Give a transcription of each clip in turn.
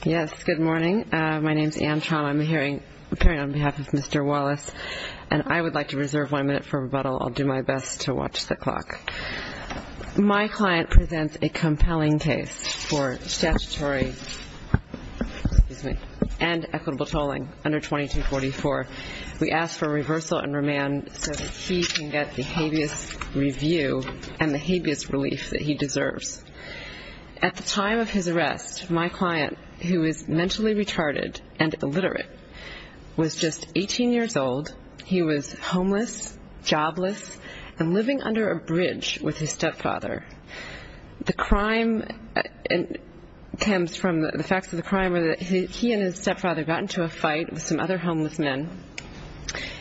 Good morning. My name is Anne Traum. I'm appearing on behalf of Mr. Wallace, and I would like to reserve one minute for rebuttal. I'll do my best to watch the clock. My client presents a compelling case for statutory and equitable tolling under 2244. We ask for reversal and remand so that he can get the habeas review and the habeas relief that he Mr. Wallace, who is mentally retarded and illiterate, was just 18 years old. He was homeless, jobless, and living under a bridge with his stepfather. The crime comes from the facts of the crime where he and his stepfather got into a fight with some other homeless men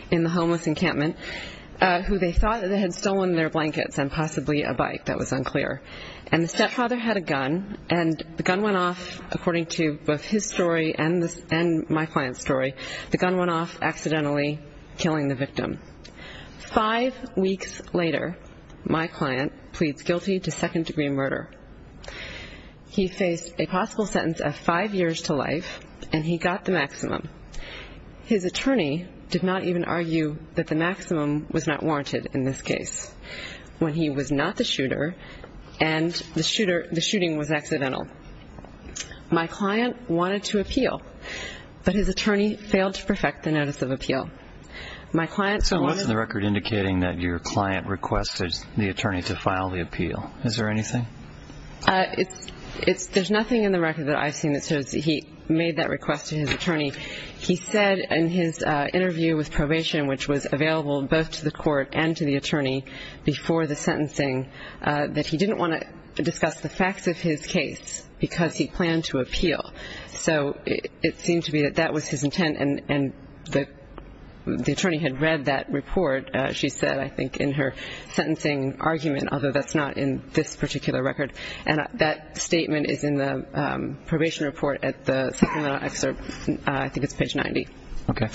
in the homeless encampment who they thought had stolen their blankets and possibly a bike that was unclear. And the stepfather had a gun, and the gun went off, according to both his story and my client's story, the gun went off accidentally killing the victim. Five weeks later, my client pleads guilty to second-degree murder. He faced a possible sentence of five years to life, and he got the maximum. His attorney did not even argue that the maximum was not warranted in this case when he was not the shooter and the shooting was accidental. My client wanted to appeal, but his attorney failed to perfect the notice of appeal. My client... So what's in the record indicating that your client requested the attorney to file the appeal? Is there anything? There's nothing in the record that I've seen that says he made that request to his client, which was available both to the court and to the attorney before the sentencing, that he didn't want to discuss the facts of his case because he planned to appeal. So it seemed to me that that was his intent, and the attorney had read that report, she said, I think, in her sentencing argument, although that's not in this particular record. And that statement is in the probation report at the supplemental excerpt. I think it's page 90. Okay.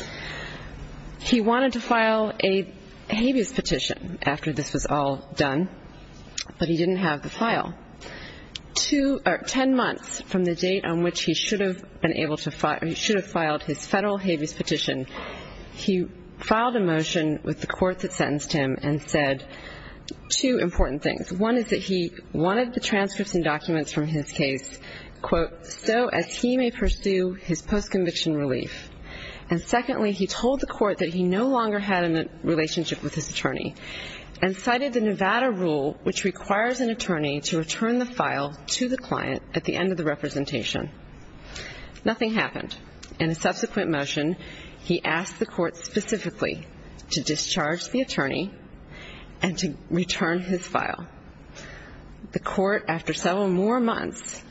He wanted to file a habeas petition after this was all done, but he didn't have the file. Ten months from the date on which he should have filed his federal habeas petition, he filed a motion with the court that sentenced him and said two important things. One is that he wanted the transcripts and documents from his case, quote, so as he may pursue his post-conviction relief. And secondly, he told the court that he no longer had a relationship with his attorney, and cited the Nevada rule, which requires an attorney to return the file to the client at the end of the representation. Nothing happened. In a subsequent motion, he asked the court specifically to discharge the attorney and to return his file. The court, after several more months,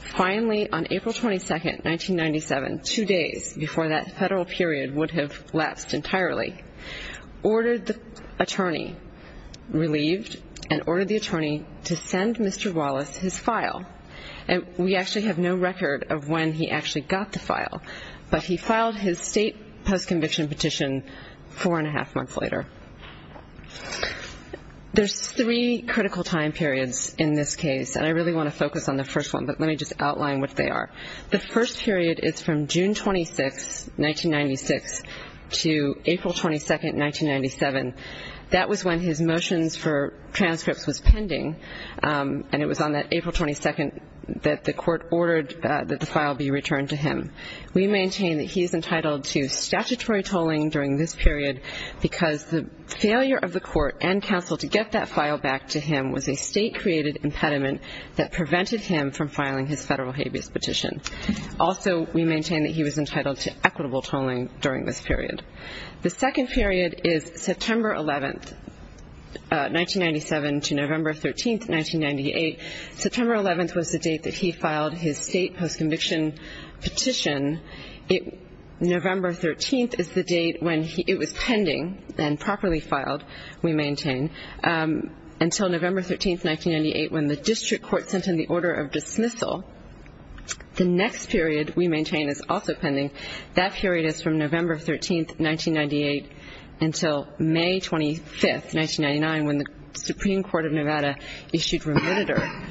finally on April 22, 1997, two days before that federal period would have lapsed entirely, ordered the attorney, relieved, and ordered the attorney to send Mr. Wallace his file. And we actually have no record of when he actually got the file, but he filed his state post-conviction petition four-and-a-half months later. There's three critical time periods in this case, and I really want to focus on the first one, but let me just outline what they are. The first period is from June 26, 1996, to April 22, 1997. That was when his motions for transcripts was pending, and it was on that April 22 that the court ordered that the file be returned to him. We maintain that he is entitled to statutory tolling during this period because the failure of the court and counsel to get that file back to him was a state-created impediment that prevented him from filing his federal habeas petition. Also, we maintain that he was entitled to equitable tolling during this period. The second period is September 11, 1997, to November 13, 1998. September 11 was the date that he filed his state post-conviction petition. November 13 is the date when it was pending and properly filed, we maintain, until November 13, 1998, when the district court sent in the order of dismissal. The next period, we maintain, is also pending. That period is from November 13, 1998, until May 25, 1999, when the Supreme Court of Nevada issued remitted order.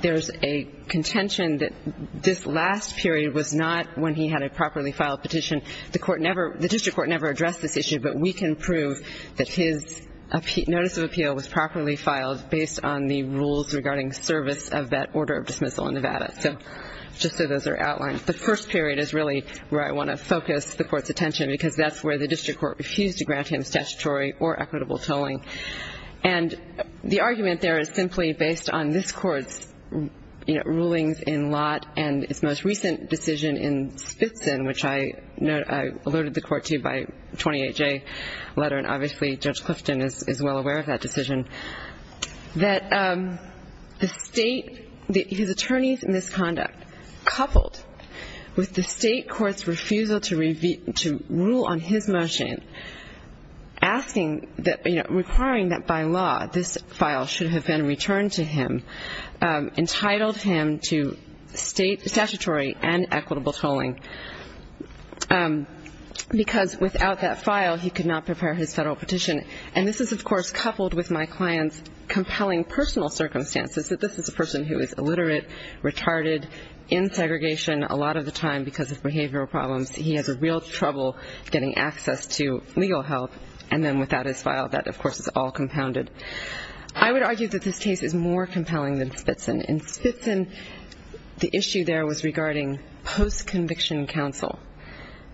There's a contention that this last period was not when he had a properly filed petition. The court never – the district court never addressed this issue, but we can prove that his notice of appeal was properly filed based on the rules regarding service of that order of dismissal in Nevada. So just so those are outlined. The first period is really where I want to focus the Court's attention, because that's where the district court refused to grant him statutory or equitable tolling. And the argument there is simply based on this Court's, you know, rulings in Lott and its most recent decision in Spitzen, which I alerted the Court to by a 28-J letter, and obviously Judge Clifton is well aware of that decision, that the state – his attorneys' misconduct coupled with the state court's refusal to rule on the matter on his motion, asking – requiring that by law this file should have been returned to him, entitled him to statutory and equitable tolling, because without that file he could not prepare his federal petition. And this is, of course, coupled with my client's compelling personal circumstances, that this is a person who is illiterate, retarded, in need of legal help, and then without his file that, of course, is all compounded. I would argue that this case is more compelling than Spitzen. In Spitzen, the issue there was regarding post-conviction counsel.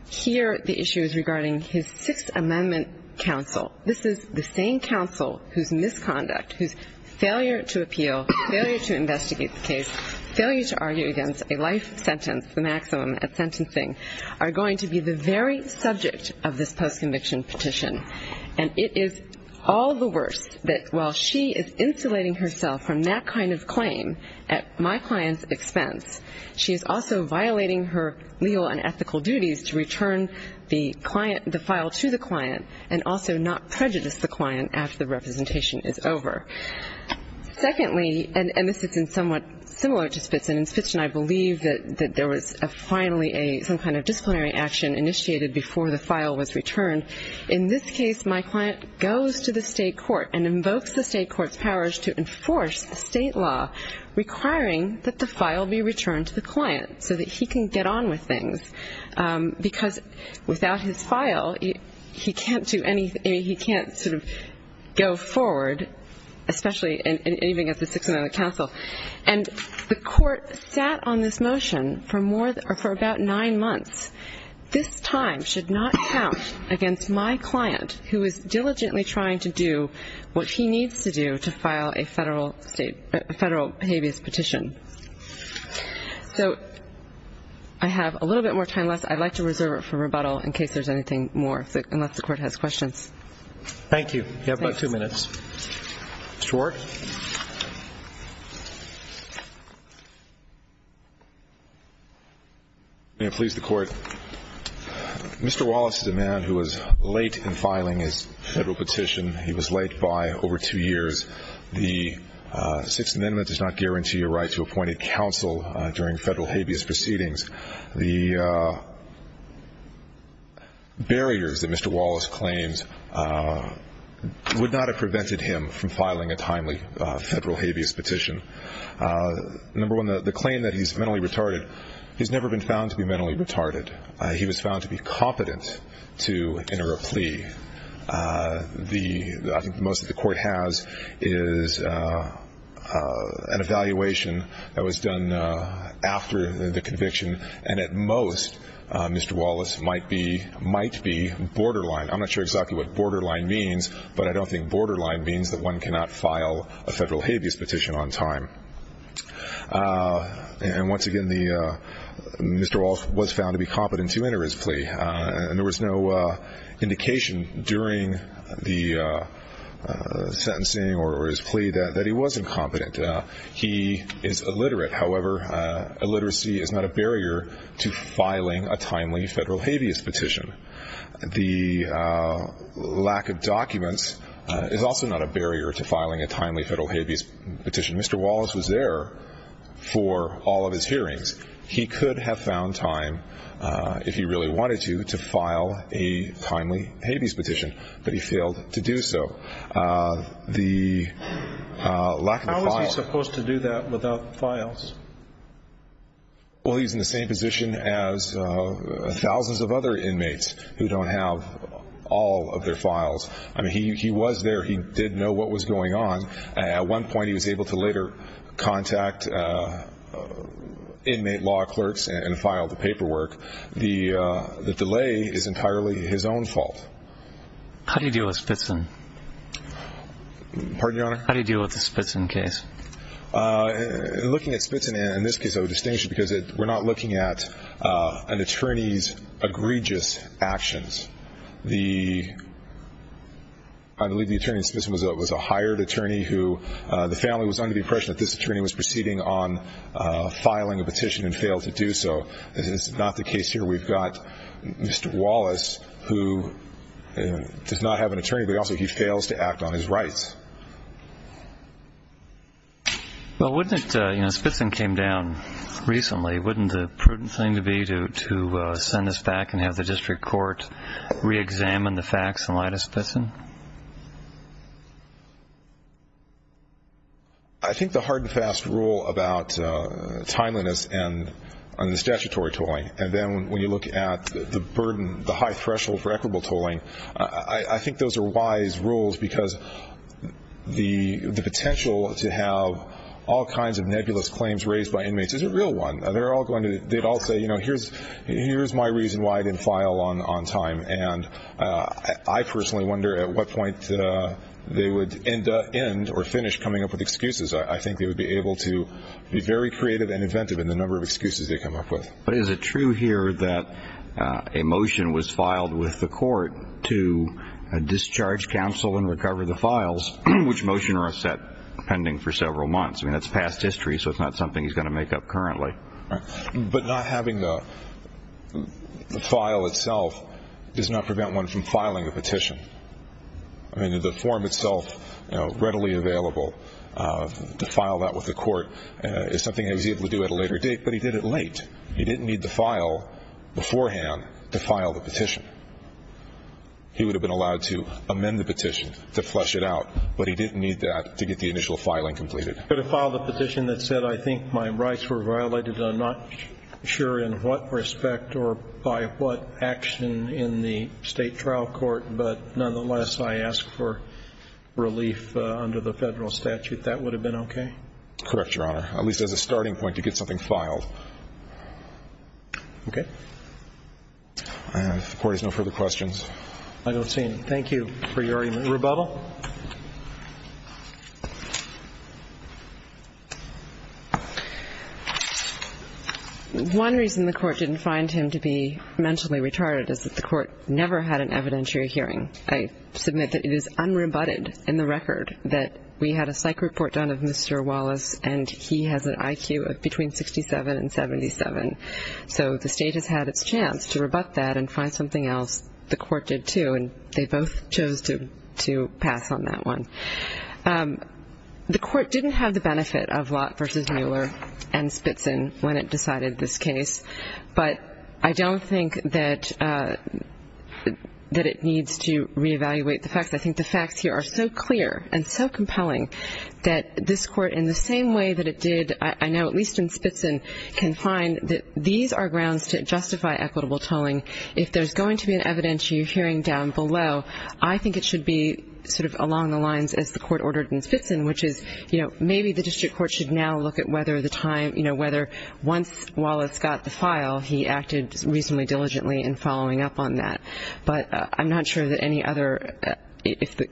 Here the issue is regarding his Sixth Amendment counsel. This is the same counsel whose misconduct, whose failure to appeal, failure to investigate the case, failure to argue against a life sentence, the maximum at sentencing, are going to be the very subject of this post-conviction petition. And it is all the worst that while she is insulating herself from that kind of claim at my client's expense, she is also violating her legal and ethical duties to return the file to the client and also not prejudice the client after the representation is over. Secondly, and this is somewhat similar to Spitzen, in Spitzen I believe that there was finally some kind of disciplinary action initiated before the file was returned. In this case, my client goes to the state court and invokes the state court's powers to enforce state law requiring that the file be returned to the client so that he can get on with things. Because without his file, he can't do anything, he can't sort of go forward, especially anything at the Sixth Amendment counsel. And the court sat on this for about nine months. This time should not count against my client who is diligently trying to do what he needs to do to file a federal habeas petition. So I have a little bit more time left. I'd like to reserve it for rebuttal in case there's anything more, unless the court has questions. Thank you. You have about two minutes. Mr. Ward. May it please the court. Mr. Wallace is a man who was late in filing his federal petition. He was late by over two years. The Sixth Amendment does not guarantee a right to appointed counsel during federal habeas proceedings. The barriers that Mr. Wallace claims are there would not have prevented him from filing a timely federal habeas petition. Number one, the claim that he's mentally retarded, he's never been found to be mentally retarded. He was found to be competent to enter a plea. I think most of the court has is an evaluation that was done after the conviction. And at most, Mr. Wallace might be borderline. I'm not sure exactly what borderline means, but I don't think borderline means that one cannot file a federal habeas petition on time. And once again, Mr. Wallace was found to be competent to enter his plea. And there was no indication during the sentencing or his plea that he wasn't competent. He is illiterate. However, illiteracy is not a barrier to filing a timely federal habeas petition. The lack of documents is also not a barrier to filing a timely federal habeas petition. Mr. Wallace was there for all of his hearings. He could have found time, if he really wanted to, to file a timely habeas petition, but he failed to do so. The lack of a file... How was he supposed to do that without files? Well, he's in the same position as thousands of other inmates who don't have all of their files. I mean, he was there. He did know what was going on. At one point, he was able to later contact inmate law clerks and file the paperwork. The delay is entirely his own fault. How do you deal with Spitson? Pardon, Your Honor? How do you deal with the Spitson case? Looking at Spitson in this case, I would distinguish it because we're not looking at an attorney's egregious actions. I believe the attorney in Spitson was a hired attorney who the family was under the impression that this attorney was proceeding on filing a petition and failed to do so. This is not the case here. We've got Mr. Wallace, who does not have an attorney, but also he fails to act on his rights. Well, wouldn't it... Spitson came down recently. Wouldn't the prudent thing to be to send us back and have the district court re-examine the facts in light of Spitson? I think the hard and fast rule about timeliness and the statutory tolling, and then when you look at the burden, the high threshold for equitable tolling, I think those are wise rules because the potential to have all kinds of nebulous claims raised by inmates is a real one. They'd all say, you know, here's my reason why I didn't file on time, and I personally wonder at what point they would end or finish coming up with excuses. I think they would be able to be very creative and inventive in the number of excuses they come up with. But is it true here that a motion was filed with the court to discharge counsel and recover the files, which motion are set pending for several months? I mean, that's past history, so it's not something he's going to make up currently. But not having the file itself does not prevent one from filing a petition. I mean, the form itself, readily available, to file that with the court is something he was able to do at a later date, but he did it at a later date. He didn't need the file beforehand to file the petition. He would have been allowed to amend the petition to flesh it out, but he didn't need that to get the initial filing completed. But to file the petition that said I think my rights were violated and I'm not sure in what respect or by what action in the State trial court, but nonetheless I ask for relief under the Federal statute, that would have been okay? Correct, Your Honor. At least as a starting point to get something filed. Okay. If the court has no further questions. I don't see any. Thank you for your rebuttal. One reason the court didn't find him to be mentally retarded is that the court never had an evidentiary hearing. I submit that it is unrebutted in the record that we had a psych report done of Mr. Wallace, and he has an IQ of between 67 and 77. So the State has had its chance to rebut that and find something else. The court did, too, and they both chose to pass on that one. The court didn't have the benefit of Lott v. Mueller and Spitzin when it decided this case, but I don't think that it needs to reevaluate the facts. I think the facts here are so clear and so compelling that this court, in the same way that it did, I know at least in Spitzin, can find that these are grounds to justify equitable tolling. If there's going to be an evidentiary hearing down below, I think it should be sort of along the lines as the court ordered in Spitzin, which is maybe the district court should now look at whether once Wallace got the file, he acted reasonably diligently in following up on that. But I'm not sure that any other,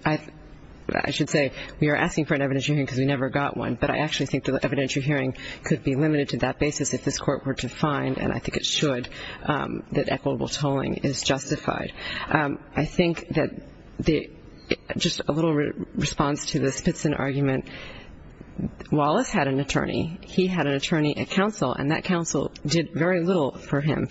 I should say, we are asking for an evidentiary hearing because we never got one, but I actually think the evidentiary hearing could be limited to that basis if this court were to find, and I think it should, that equitable tolling is justified. I think that just a little response to the Spitzin argument, Wallace had an attorney. He had an attorney at counsel, and that counsel did very little for him.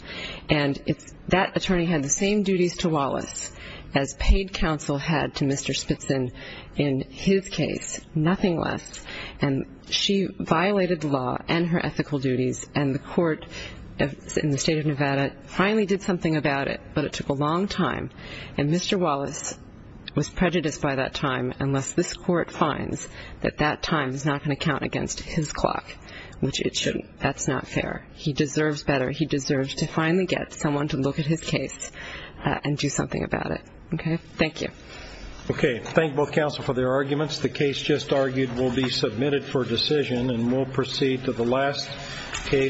And that attorney had the same duties to Wallace as paid counsel had to Mr. Spitzin in his case, nothing less. And she violated the law and her ethical duties, and the court in the state of Nevada finally did something about it, but it took a long time. And Mr. Wallace was prejudiced by that time unless this court had a clock, which it shouldn't. That's not fair. He deserves better. He deserves to finally get someone to look at his case and do something about it. Okay? Thank you.